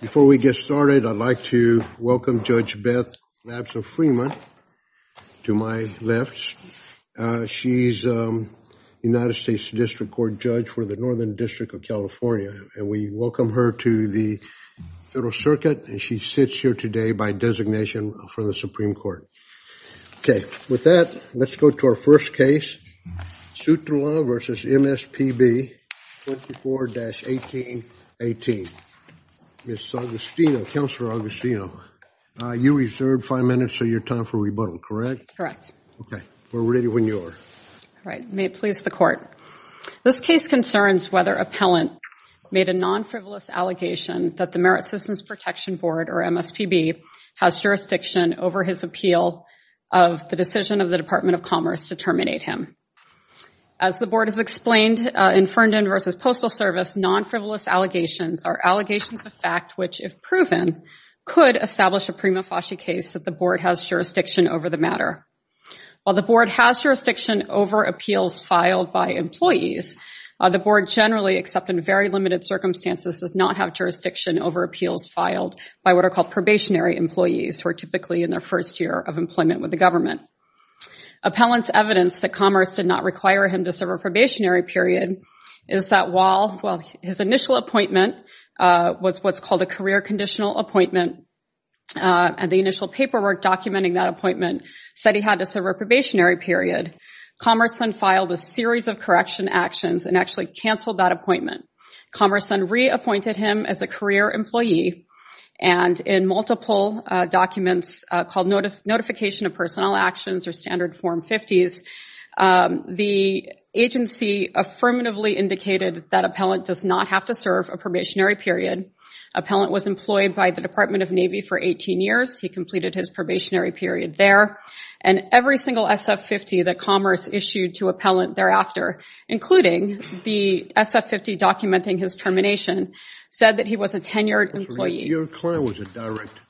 Before we get started, I'd like to welcome Judge Beth Labson-Freeman to my left. She's a United States District Court judge for the Northern District of California, and we welcome her to the Federal Circuit, and she sits here today by designation for the Supreme Court. Okay. With that, let's go to our first case, Sutla v. MSPB, 24-1818. Ms. Agostino, Counselor Agostino, you reserved five minutes of your time for rebuttal, correct? Correct. Okay. We're ready when you are. All right. May it please the Court. This case concerns whether appellant made a non-frivolous allegation that the Merit Systems Protection Board, or MSPB, has jurisdiction over his appeal of the decision of the Department of Commerce to terminate him. As the Board has explained, in Fernden v. Postal Service, non-frivolous allegations are allegations of fact which, if proven, could establish a prima facie case that the Board has jurisdiction over the matter. While the Board has jurisdiction over appeals filed by employees, the Board generally, except in very limited circumstances, does not have jurisdiction over appeals filed by what are called probationary employees who are typically in their first year of employment with the government. Appellant's evidence that Commerce did not require him to serve a probationary period is that while his initial appointment was what's called a career conditional appointment, and the initial paperwork documenting that appointment said he had to serve a probationary period, Commerce then filed a series of correction actions and actually canceled that appointment. Commerce then reappointed him as a career employee, and in multiple documents called Notification of Personnel Actions or Standard Form 50s, the agency affirmatively indicated that appellant does not have to serve a probationary period. Appellant was employed by the Department of Navy for 18 years. He completed his probationary period there, and every single SF-50 that Commerce issued to appellant thereafter, including the SF-50 documenting his termination, said that he was a tenured employee. Your client was a direct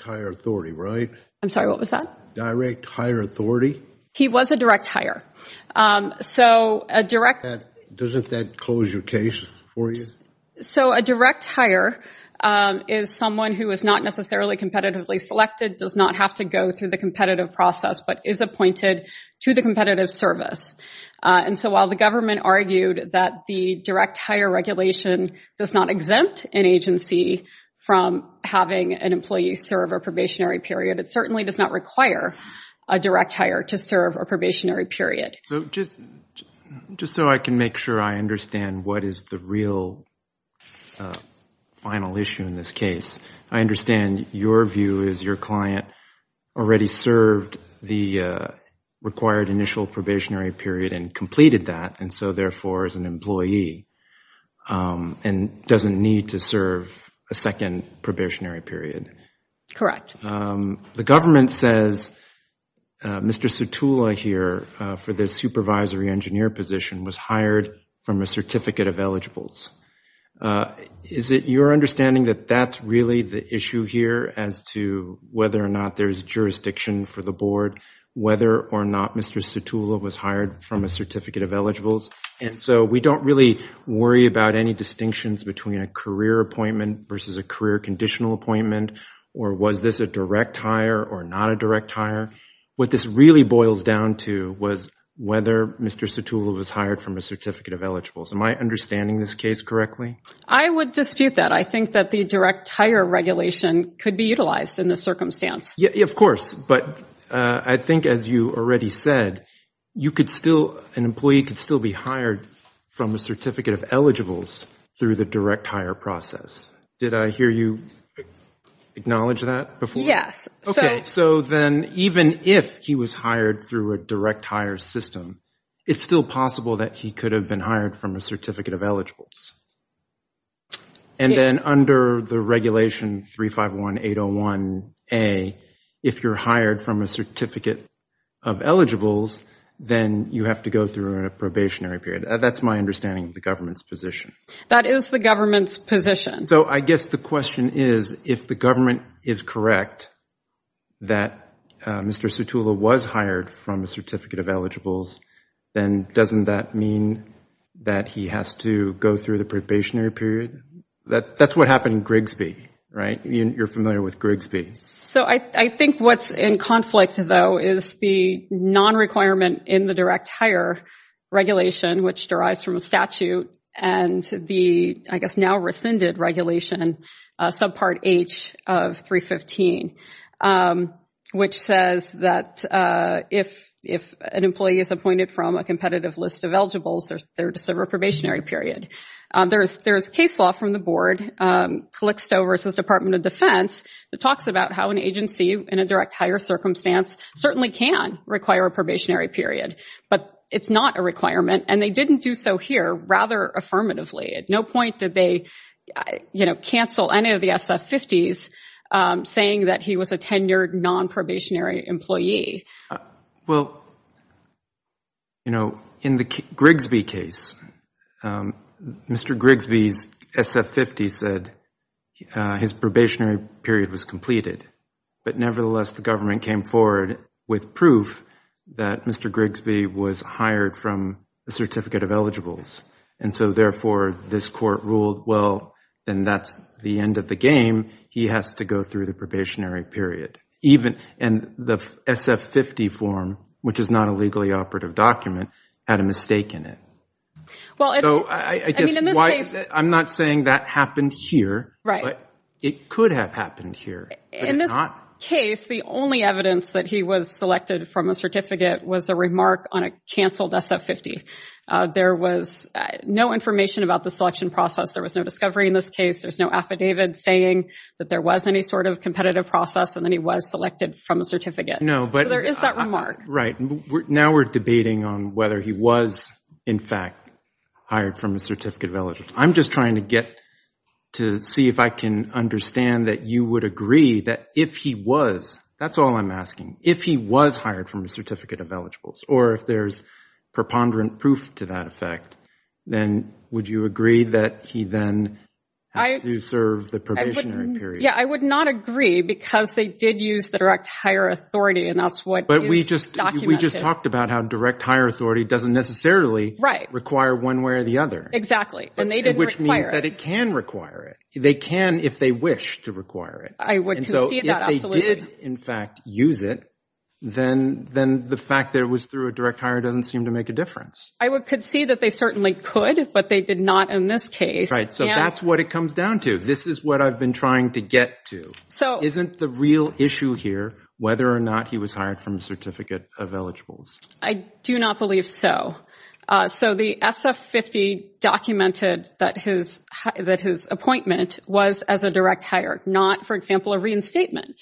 hire authority, right? I'm sorry, what was that? Direct hire authority? He was a direct hire. So a direct- Doesn't that close your case for you? So a direct hire is someone who is not necessarily competitively selected, does not have to go through the competitive process, but is appointed to the competitive service. And so while the government argued that the direct hire regulation does not exempt an agency from having an employee serve a probationary period, it certainly does not require a direct hire to serve a probationary period. Just so I can make sure I understand what is the real final issue in this case, I understand your view is your client already served the required initial probationary period and completed that, and so therefore is an employee and doesn't need to serve a second probationary period. Correct. The government says Mr. Sutula here, for this supervisory engineer position, was hired from a certificate of eligibles. Is it your understanding that that's really the issue here as to whether or not there's jurisdiction for the board, whether or not Mr. Sutula was hired from a certificate of eligibles? And so we don't really worry about any distinctions between a career appointment versus a career conditional appointment, or was this a direct hire or not a direct hire? What this really boils down to was whether Mr. Sutula was hired from a certificate of eligibles. Am I understanding this case correctly? I would dispute that. I think that the direct hire regulation could be utilized in this circumstance. Of course, but I think as you already said, an employee could still be hired from a certificate of eligibles through the direct hire process. Did I hear you acknowledge that before? Yes. Okay, so then even if he was hired through a direct hire system, it's still possible that he could have been hired from a certificate of eligibles. And then under the regulation 351801A, if you're hired from a certificate of eligibles, then you have to go through a probationary period. That's my understanding of the government's position. That is the government's position. So I guess the question is, if the government is correct that Mr. Sutula was hired from a certificate of eligibles, then doesn't that mean that he has to go through the probationary period? That's what happened in Grigsby, right? You're familiar with Grigsby. So I think what's in conflict, though, is the non-requirement in the direct hire regulation, which derives from a statute and the, I guess, now rescinded regulation, subpart H of 315, which says that if an employee is appointed from a competitive list of eligibles, they're to serve a probationary period. There's case law from the board, Calyxto v. Department of Defense, that talks about how an agency in a direct hire circumstance certainly can require a probationary period. But it's not a requirement. And they didn't do so here rather affirmatively. At no point did they cancel any of the SF-50s saying that he was a tenured non-probationary employee. Well, you know, in the Grigsby case, Mr. Grigsby's SF-50 said his probationary period was completed. But nevertheless, the government came forward with proof that Mr. Grigsby was hired from a certificate of eligibles. And so therefore, this court ruled, well, then that's the end of the game. He has to go through the probationary period. And the SF-50 form, which is not a legally operative document, had a mistake in it. So I guess, I'm not saying that happened here, but it could have happened here. In this case, the only evidence that he was selected from a certificate was a remark on a canceled SF-50. There was no information about the selection process. There was no discovery in this case. There's no affidavit saying that there was any sort of competitive process and that he was selected from a certificate. So there is that remark. Right. Now we're debating on whether he was, in fact, hired from a certificate of eligibles. I'm just trying to get to see if I can understand that you would agree that if he was, that's all I'm asking. If he was hired from a certificate of eligibles, or if there's preponderant proof to that effect, then would you agree that he then had to serve the probationary period? Yeah, I would not agree because they did use direct hire authority, and that's what is But we just talked about how direct hire authority doesn't necessarily require one way or the other. Exactly. And they didn't require it. Which means that it can require it. They can if they wish to require it. I would concede that, absolutely. But if they did, in fact, use it, then the fact that it was through a direct hire doesn't seem to make a difference. I would concede that they certainly could, but they did not in this case. Right. So that's what it comes down to. This is what I've been trying to get to. Isn't the real issue here whether or not he was hired from a certificate of eligibles? I do not believe so. So the SF-50 documented that his appointment was as a direct hire, not, for example, a reinstatement.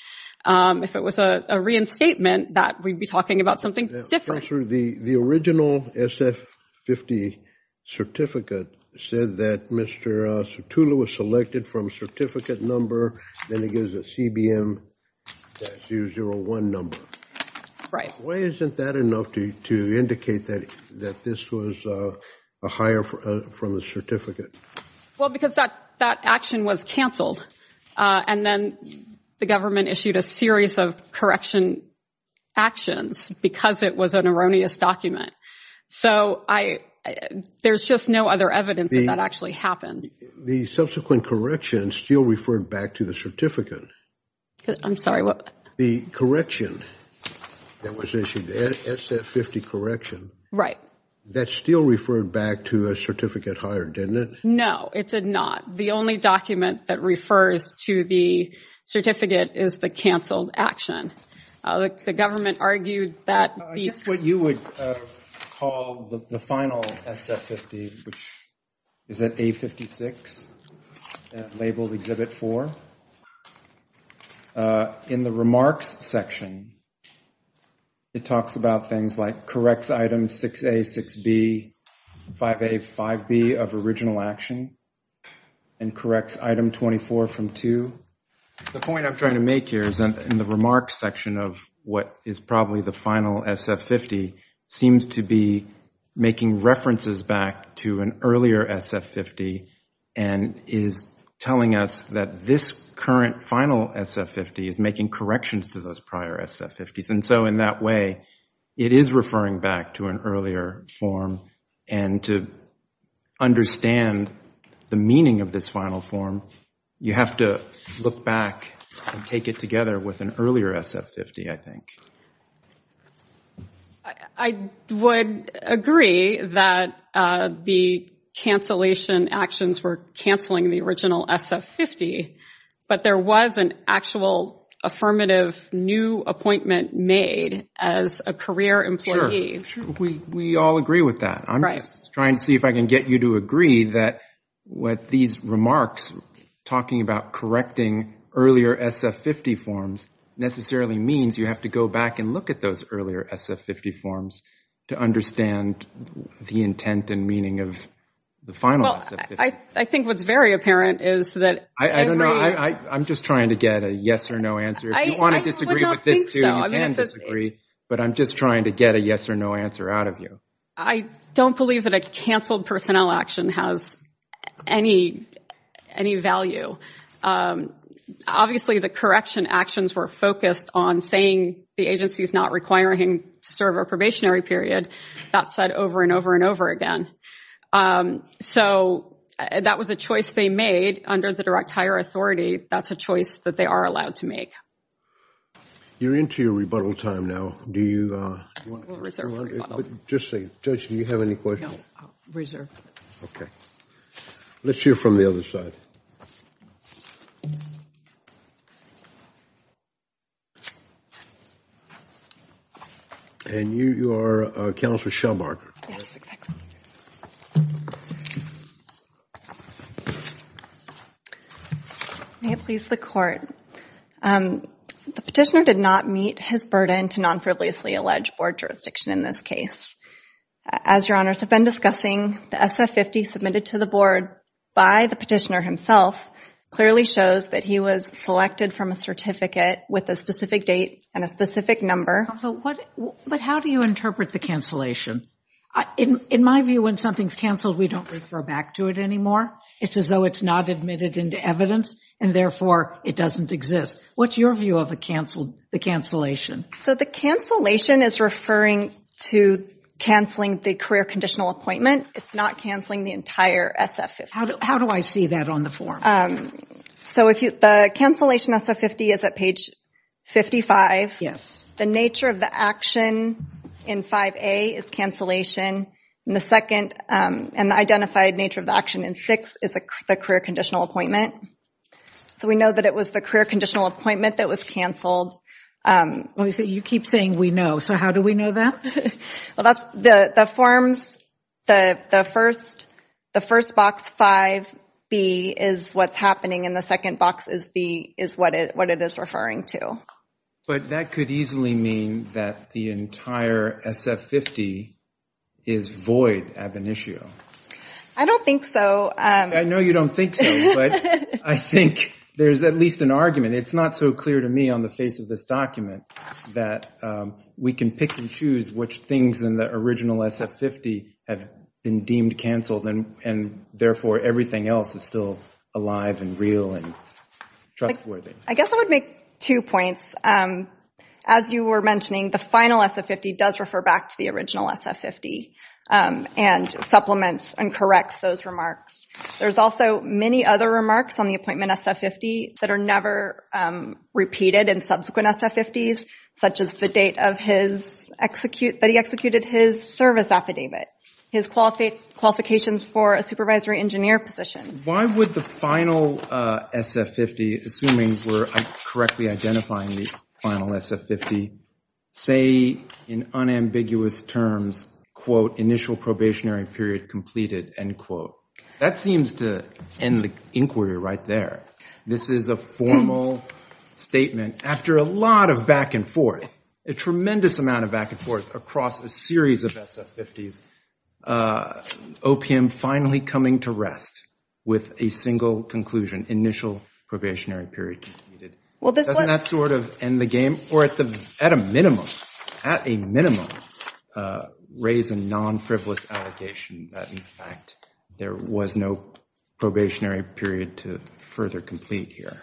If it was a reinstatement, we'd be talking about something different. The original SF-50 certificate said that Mr. Sertullo was selected from a certificate number, then it gives a CBM-001 number. Right. Why isn't that enough to indicate that this was a hire from a certificate? Well because that action was canceled. And then the government issued a series of correction actions because it was an erroneous document. So there's just no other evidence that that actually happened. The subsequent correction still referred back to the certificate. I'm sorry, what? The correction that was issued, the SF-50 correction. Right. That still referred back to a certificate hire, didn't it? No, it did not. The only document that refers to the certificate is the canceled action. The government argued that the- I guess what you would call the final SF-50, which is at A56, labeled Exhibit 4. In the remarks section, it talks about things like corrects items 6A, 6B, 5A, 5B of original action and corrects item 24 from 2. The point I'm trying to make here is in the remarks section of what is probably the final SF-50 seems to be making references back to an earlier SF-50 and is telling us that this current final SF-50 is making corrections to those prior SF-50s. In that way, it is referring back to an earlier form. To understand the meaning of this final form, you have to look back and take it together with an earlier SF-50, I think. I would agree that the cancellation actions were canceling the original SF-50, but there was an actual affirmative new appointment made as a career employee. We all agree with that. I'm just trying to see if I can get you to agree that what these remarks talking about correcting earlier SF-50 forms necessarily means you have to go back and look at those earlier SF-50 forms to understand the intent and meaning of the final SF-50. I think what's very apparent is that every... I'm just trying to get a yes or no answer. If you want to disagree with this, you can disagree, but I'm just trying to get a yes or no answer out of you. I don't believe that a canceled personnel action has any value. Obviously the correction actions were focused on saying the agency is not requiring him to serve a probationary period. That's said over and over and over again. That was a choice they made under the direct hire authority. That's a choice that they are allowed to make. You're into your rebuttal time now. Do you want to... Just a second. Judge, do you have any questions? No. Okay. Let's hear from the other side. You are Counselor Shell-Margaret. Yes, exactly. May it please the court, the petitioner did not meet his burden to non-privilegedly allege board jurisdiction in this case. As your honors have been discussing, the SF-50 submitted to the board by the petitioner himself clearly shows that he was selected from a certificate with a specific date and a specific number. Counsel, but how do you interpret the cancellation? In my view, when something's canceled, we don't refer back to it anymore. It's as though it's not admitted into evidence and therefore it doesn't exist. What's your view of the cancellation? The cancellation is referring to canceling the career conditional appointment. It's not canceling the entire SF-50. How do I see that on the form? The cancellation SF-50 is at page 55. The nature of the action in 5A is cancellation and the identified nature of the action in 6 is the career conditional appointment. So we know that it was the career conditional appointment that was canceled. You keep saying we know. So how do we know that? The forms, the first box 5B is what's happening and the second box is what it is referring to. But that could easily mean that the entire SF-50 is void ab initio. I don't think so. I know you don't think so, but I think there's at least an argument. It's not so clear to me on the face of this document that we can pick and choose which things in the original SF-50 have been deemed canceled and therefore everything else is still alive and real and trustworthy. I guess I would make two points. As you were mentioning, the final SF-50 does refer back to the original SF-50 and supplements and corrects those remarks. There's also many other remarks on the appointment SF-50 that are never repeated in subsequent SF-50s, such as the date that he executed his service affidavit, his qualifications for a supervisory engineer position. Why would the final SF-50, assuming we're correctly identifying the final SF-50, say in unambiguous terms, quote, initial probationary period completed, end quote? That seems to end the inquiry right there. This is a formal statement after a lot of back and forth, a tremendous amount of back and forth across a series of SF-50s, OPM finally coming to rest with a single conclusion, initial probationary period completed. Doesn't that sort of end the game? Or at a minimum, raise a non-frivolous allegation that, in fact, there was no probationary period to further complete here?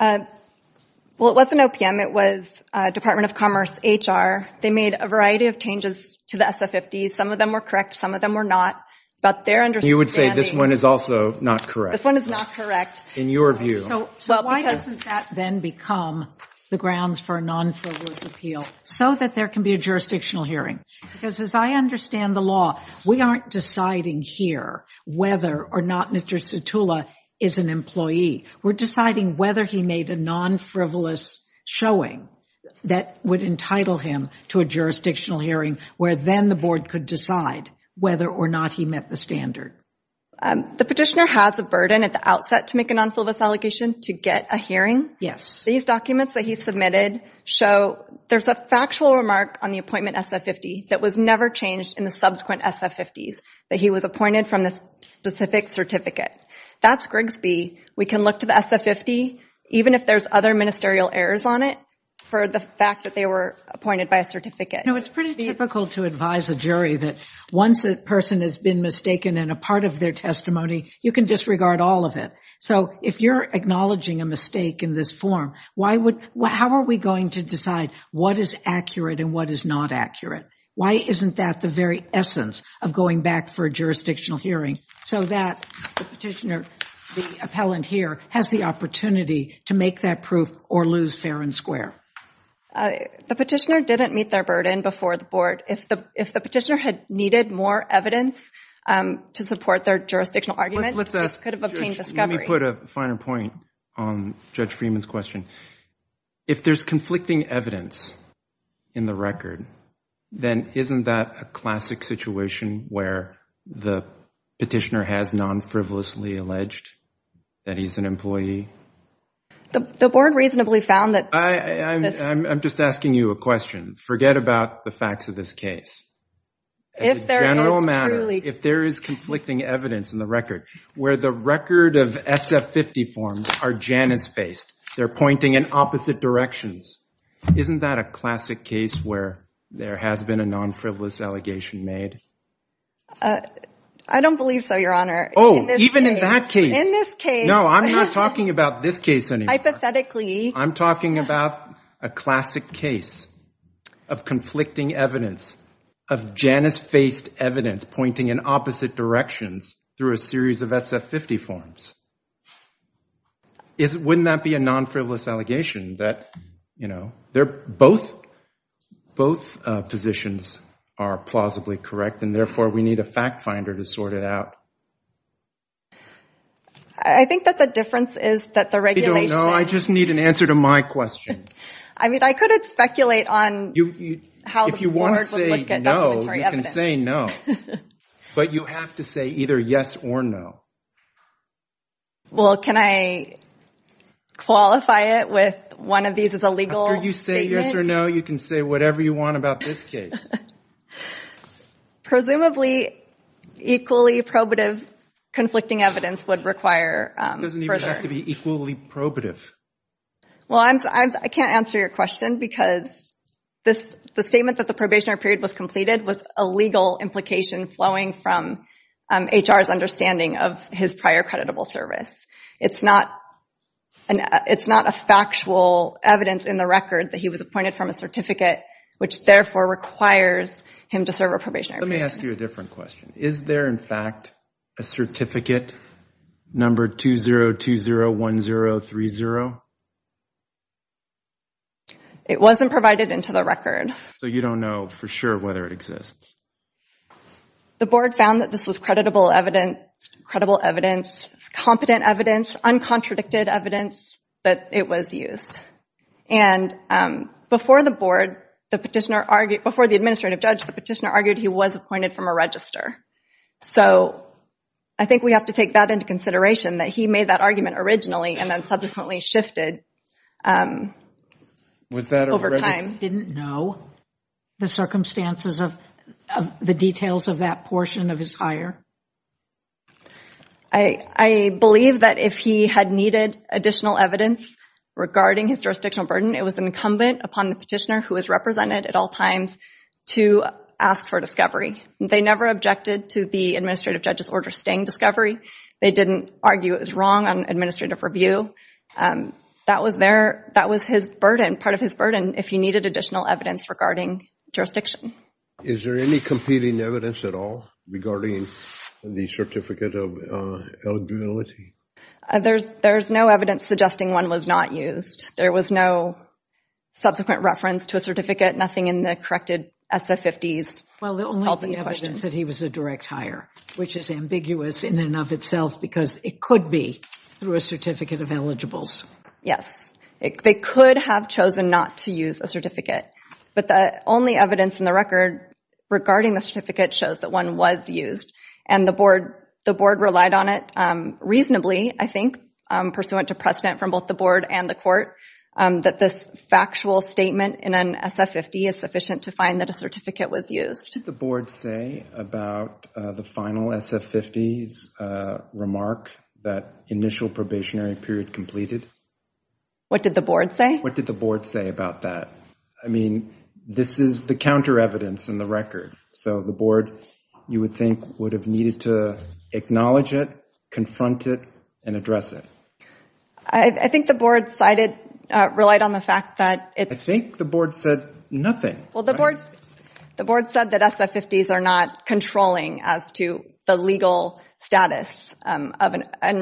Well, it wasn't OPM. It was Department of Commerce, HR. They made a variety of changes to the SF-50s. Some of them were correct. Some of them were not. But their understanding- You would say this one is also not correct. This one is not correct. In your view. So why doesn't that then become the grounds for a non-frivolous appeal? So that there can be a jurisdictional hearing. Because as I understand the law, we aren't deciding here whether or not Mr. Satula is an employee. We're deciding whether he made a non-frivolous showing that would entitle him to a jurisdictional hearing where then the board could decide whether or not he met the standard. The petitioner has a burden at the outset to make a non-frivolous allegation to get a hearing. Yes. These documents that he submitted show there's a factual remark on the appointment SF-50 that was never changed in the subsequent SF-50s, that he was appointed from this specific certificate. That's Grigsby. We can look to the SF-50, even if there's other ministerial errors on it, for the fact that they were appointed by a certificate. It's pretty difficult to advise a jury that once a person has been mistaken in a part of their testimony, you can disregard all of it. So if you're acknowledging a mistake in this form, how are we going to decide what is accurate and what is not accurate? Why isn't that the very essence of going back for a jurisdictional hearing? So that the petitioner, the appellant here, has the opportunity to make that proof or lose fair and square. The petitioner didn't meet their burden before the board. If the petitioner had needed more evidence to support their jurisdictional argument, he could have obtained discovery. Let me put a finer point on Judge Freeman's question. If there's conflicting evidence in the record, then isn't that a classic situation where the petitioner has non-frivolously alleged that he's an employee? The board reasonably found that... I'm just asking you a question. Forget about the facts of this case. If there is conflicting evidence in the record, where the record of SF-50 forms are Janice-faced, they're pointing in opposite directions, isn't that a classic case where there has been a non-frivolous allegation made? I don't believe so, Your Honor. Oh, even in that case? In this case. No, I'm not talking about this case anymore. Hypothetically. I'm talking about a classic case of conflicting evidence, of Janice-faced evidence pointing in opposite directions through a series of SF-50 forms. Wouldn't that be a non-frivolous allegation? Both positions are plausibly correct, and therefore we need a fact finder to sort it out. I think that the difference is that the regulation... You don't know. I just need an answer to my question. I mean, I could speculate on how the board would look at documentary evidence. If you want to say no, you can say no. But you have to say either yes or no. Well, can I qualify it with one of these as a legal statement? After you say yes or no, you can say whatever you want about this case. Presumably, equally probative conflicting evidence would require further... It doesn't even have to be equally probative. Well, I can't answer your question because the statement that the probationary period was completed was a legal implication flowing from HR's understanding of his prior creditable service. It's not a factual evidence in the record that he was appointed from a certificate, which therefore requires him to serve a probationary period. Let me ask you a different question. Is there, in fact, a certificate, number 20201030? It wasn't provided into the record. So you don't know for sure whether it exists. The board found that this was credible evidence, competent evidence, uncontradicted evidence that it was used. And before the board, before the administrative judge, the petitioner argued he was appointed from a register. So I think we have to take that into consideration, that he made that argument originally and then subsequently shifted over time. Didn't know the circumstances of the details of that portion of his hire? I believe that if he had needed additional evidence regarding his jurisdictional burden, it was incumbent upon the petitioner, who was represented at all times, to ask for discovery. They never objected to the administrative judge's order staying discovery. They didn't argue it was wrong on administrative review. That was his burden, part of his burden, if he needed additional evidence regarding jurisdiction. Is there any competing evidence at all regarding the certificate of eligibility? There's no evidence suggesting one was not used. There was no subsequent reference to a certificate, nothing in the corrected SF50s. Well, the only evidence that he was a direct hire, which is ambiguous in and of itself, because it could be through a certificate of eligibles. Yes. They could have chosen not to use a certificate. But the only evidence in the record regarding the certificate shows that one was used. And the board relied on it reasonably, I think, pursuant to precedent from both the board and the court, that this factual statement in an SF50 is sufficient to find that a certificate was used. What did the board say about the final SF50s remark that initial probationary period completed? What did the board say? What did the board say about that? I mean, this is the counter evidence in the record. So the board, you would think, would have needed to acknowledge it, confront it, and address it. I think the board cited, relied on the fact that it's... I think the board said nothing. Well, the board said that SF50s are not controlling as to the legal status and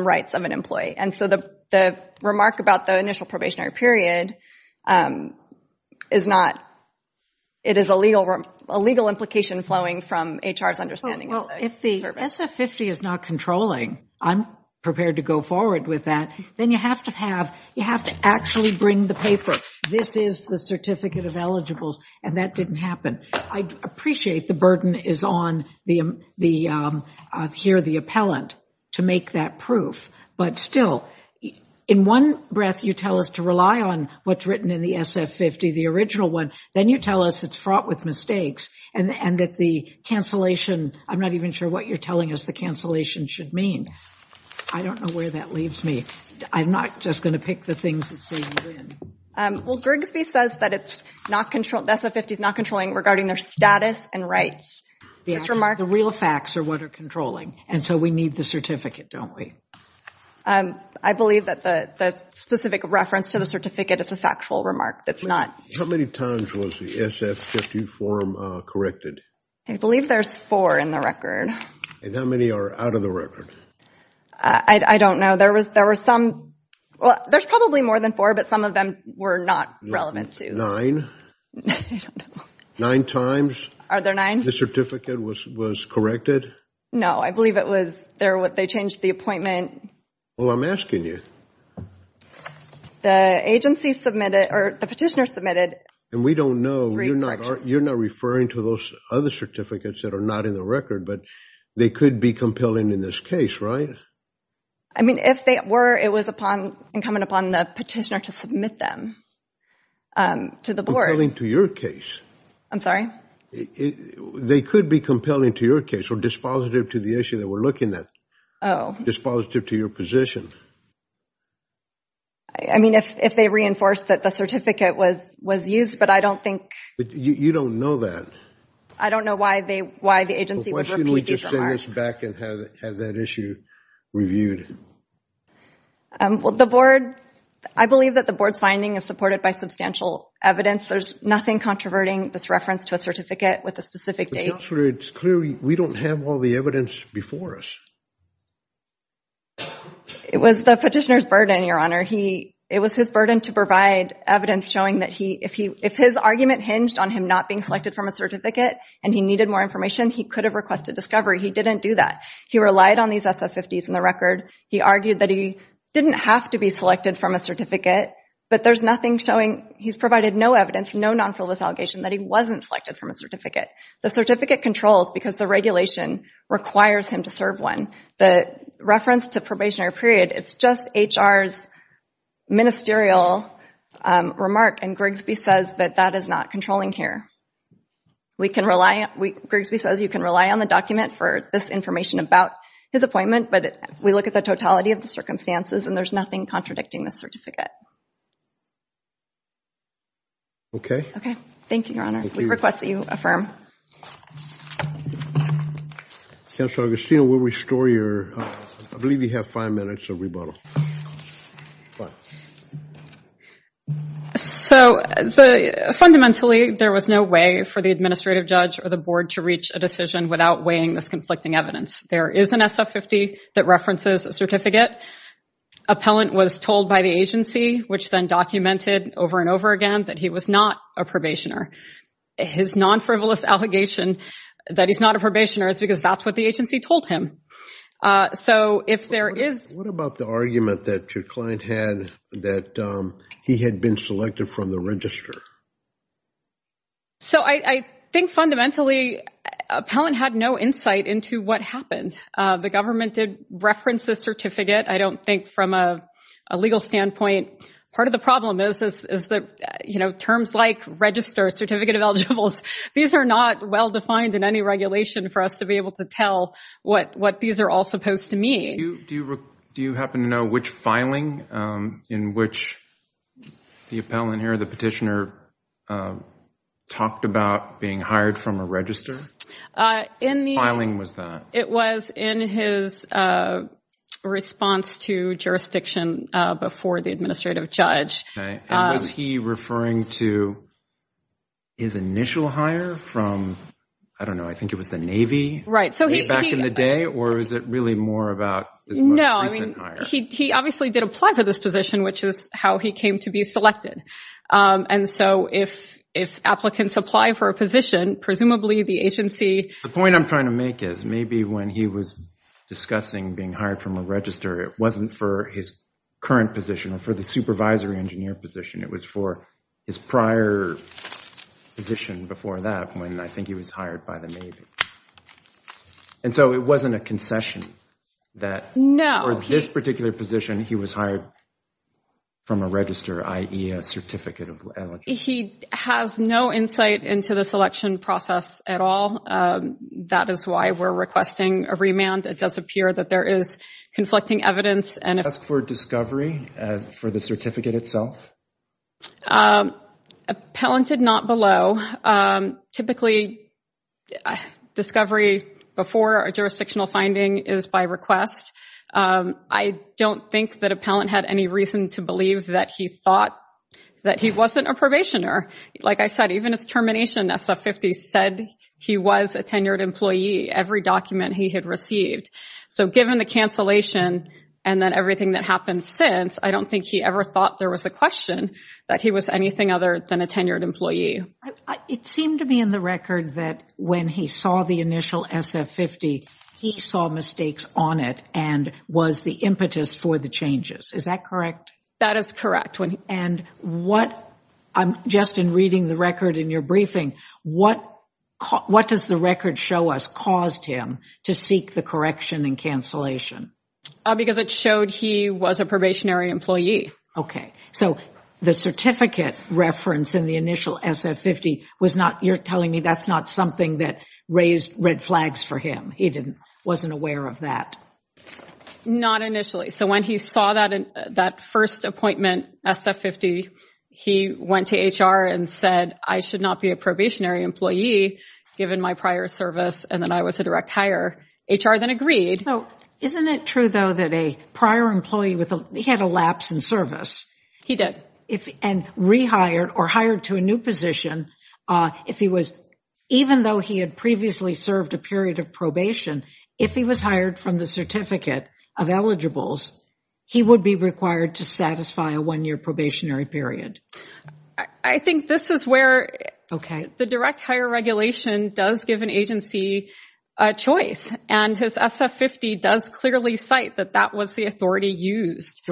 rights of an employee. And so the remark about the initial probationary period is not... It is a legal implication flowing from HR's understanding of the service. Well, if the SF50 is not controlling, I'm prepared to go forward with that. Then you have to actually bring the paper. This is the certificate of eligibles, and that didn't happen. I appreciate the burden is on the...here, the appellant, to make that proof. But still, in one breath, you tell us to rely on what's written in the SF50, the original one. Then you tell us it's fraught with mistakes and that the cancellation... I'm not even sure what you're telling us the cancellation should mean. I don't know where that leaves me. I'm not just going to pick the things that say you win. Well, Grigsby says that the SF50 is not controlling regarding their status and rights. The real facts are what are controlling, and so we need the certificate, don't we? I believe that the specific reference to the certificate is a factual remark. How many times was the SF50 form corrected? I believe there's four in the record. And how many are out of the record? I don't know. There was some...well, there's probably more than four, but some of them were not relevant to... I don't know. Nine times? Are there nine? The certificate was corrected? No, I believe it was...they changed the appointment. Well, I'm asking you. The agency submitted, or the petitioner submitted... And we don't know. ...three corrections. You're not referring to those other certificates that are not in the record, but they could be compelling in this case, right? I mean, if they were, it was incumbent upon the petitioner to submit them to the board. Compelling to your case. I'm sorry? They could be compelling to your case or dispositive to the issue that we're looking at. Oh. Dispositive to your position. I mean, if they reinforced that the certificate was used, but I don't think... You don't know that. I don't know why the agency would repeat these remarks. Why shouldn't we just send this back and have that issue reviewed? Well, the board... I believe that the board's finding is supported by substantial evidence. There's nothing controverting this reference to a certificate with a specific date. Counselor, it's clear we don't have all the evidence before us. It was the petitioner's burden, Your Honor. It was his burden to provide evidence showing that if his argument hinged on him not being selected from a certificate and he needed more information, he could have requested discovery. He didn't do that. He relied on these SF-50s in the record. He argued that he didn't have to be selected from a certificate, but there's nothing showing... He's provided no evidence, no non-fill-this-allegation, that he wasn't selected from a certificate. The certificate controls because the regulation requires him to serve one. The reference to probationary period, it's just HR's ministerial remark, and Grigsby says that that is not controlling here. We can rely... Grigsby says you can rely on the document for this information about his appointment, but we look at the totality of the circumstances, and there's nothing contradicting the certificate. Okay. Okay. Thank you, Your Honor. We request that you affirm. Counselor Augustino, we'll restore your... I believe you have five minutes of rebuttal. Go ahead. So fundamentally, there was no way for the administrative judge or the board to reach a decision without weighing this conflicting evidence. There is an SF-50 that references a certificate. Appellant was told by the agency, which then documented over and over again, that he was not a probationer. His non-frivolous allegation that he's not a probationer is because that's what the agency told him. So if there is... What about the argument that your client had that he had been selected from the register? So I think fundamentally, appellant had no insight into what happened. The government did reference the certificate. I don't think from a legal standpoint. Part of the problem is that, you know, terms like register, certificate of eligibles, these are not well-defined in any regulation for us to be able to tell what these are all supposed to mean. Do you happen to know which filing in which the appellant here, the petitioner, talked about being hired from a register? What filing was that? It was in his response to jurisdiction before the administrative judge. And was he referring to his initial hire from, I don't know, I think it was the Navy, way back in the day, or is it really more about his most recent hire? No, I mean, he obviously did apply for this position, which is how he came to be selected. And so if applicants apply for a position, presumably the agency... The point I'm trying to make is, maybe when he was discussing being hired from a register, it wasn't for his current position or for the supervisory engineer position. It was for his prior position before that when I think he was hired by the Navy. And so it wasn't a concession that... No. For this particular position, he was hired from a register, i.e. a certificate of... He has no insight into the selection process at all. That is why we're requesting a remand. It does appear that there is conflicting evidence. As for discovery for the certificate itself? Appellanted not below. Typically, discovery before a jurisdictional finding is by request. I don't think that appellant had any reason to believe that he thought that he wasn't a probationer. Like I said, even his termination, SF-50, said he was a tenured employee, every document he had received. So given the cancellation and then everything that happened since, I don't think he ever thought there was a question that he was anything other than a tenured employee. It seemed to me in the record that when he saw the initial SF-50, he saw mistakes on it and was the impetus for the changes. Is that correct? That is correct. And what... Just in reading the record in your briefing, what does the record show us caused him to seek the correction and cancellation? Because it showed he was a probationary employee. Okay. So the certificate reference in the initial SF-50 was not... You're telling me that's not something that raised red flags for him? He wasn't aware of that? Not initially. So when he saw that first appointment, SF-50, he went to HR and said, I should not be a probationary employee, given my prior service and that I was a direct hire. HR then agreed. Isn't it true, though, that a prior employee with... He had a lapse in service. He did. And rehired or hired to a new position, if he was... Even though he had previously served a period of probation, if he was hired from the certificate of eligibles, he would be required to satisfy a one-year probationary period. I think this is where the direct hire regulation does give an agency a choice, and his SF-50 does clearly cite that that was the authority used.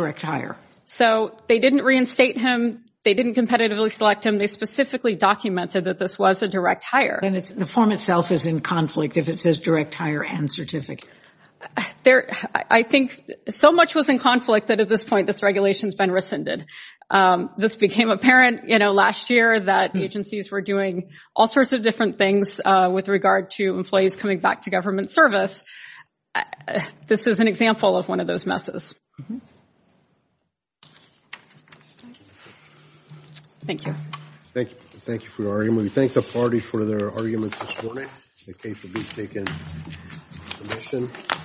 So they didn't reinstate him. They didn't competitively select him. They specifically documented that this was a direct hire. And the form itself is in conflict if it says direct hire and certificate. I think so much was in conflict that at this point this regulation's been rescinded. This became apparent last year that agencies were doing all sorts of different things with regard to employees coming back to government service. This is an example of one of those messes. Thank you. Thank you for your argument. We thank the party for their arguments this morning. The case will be taken into submission.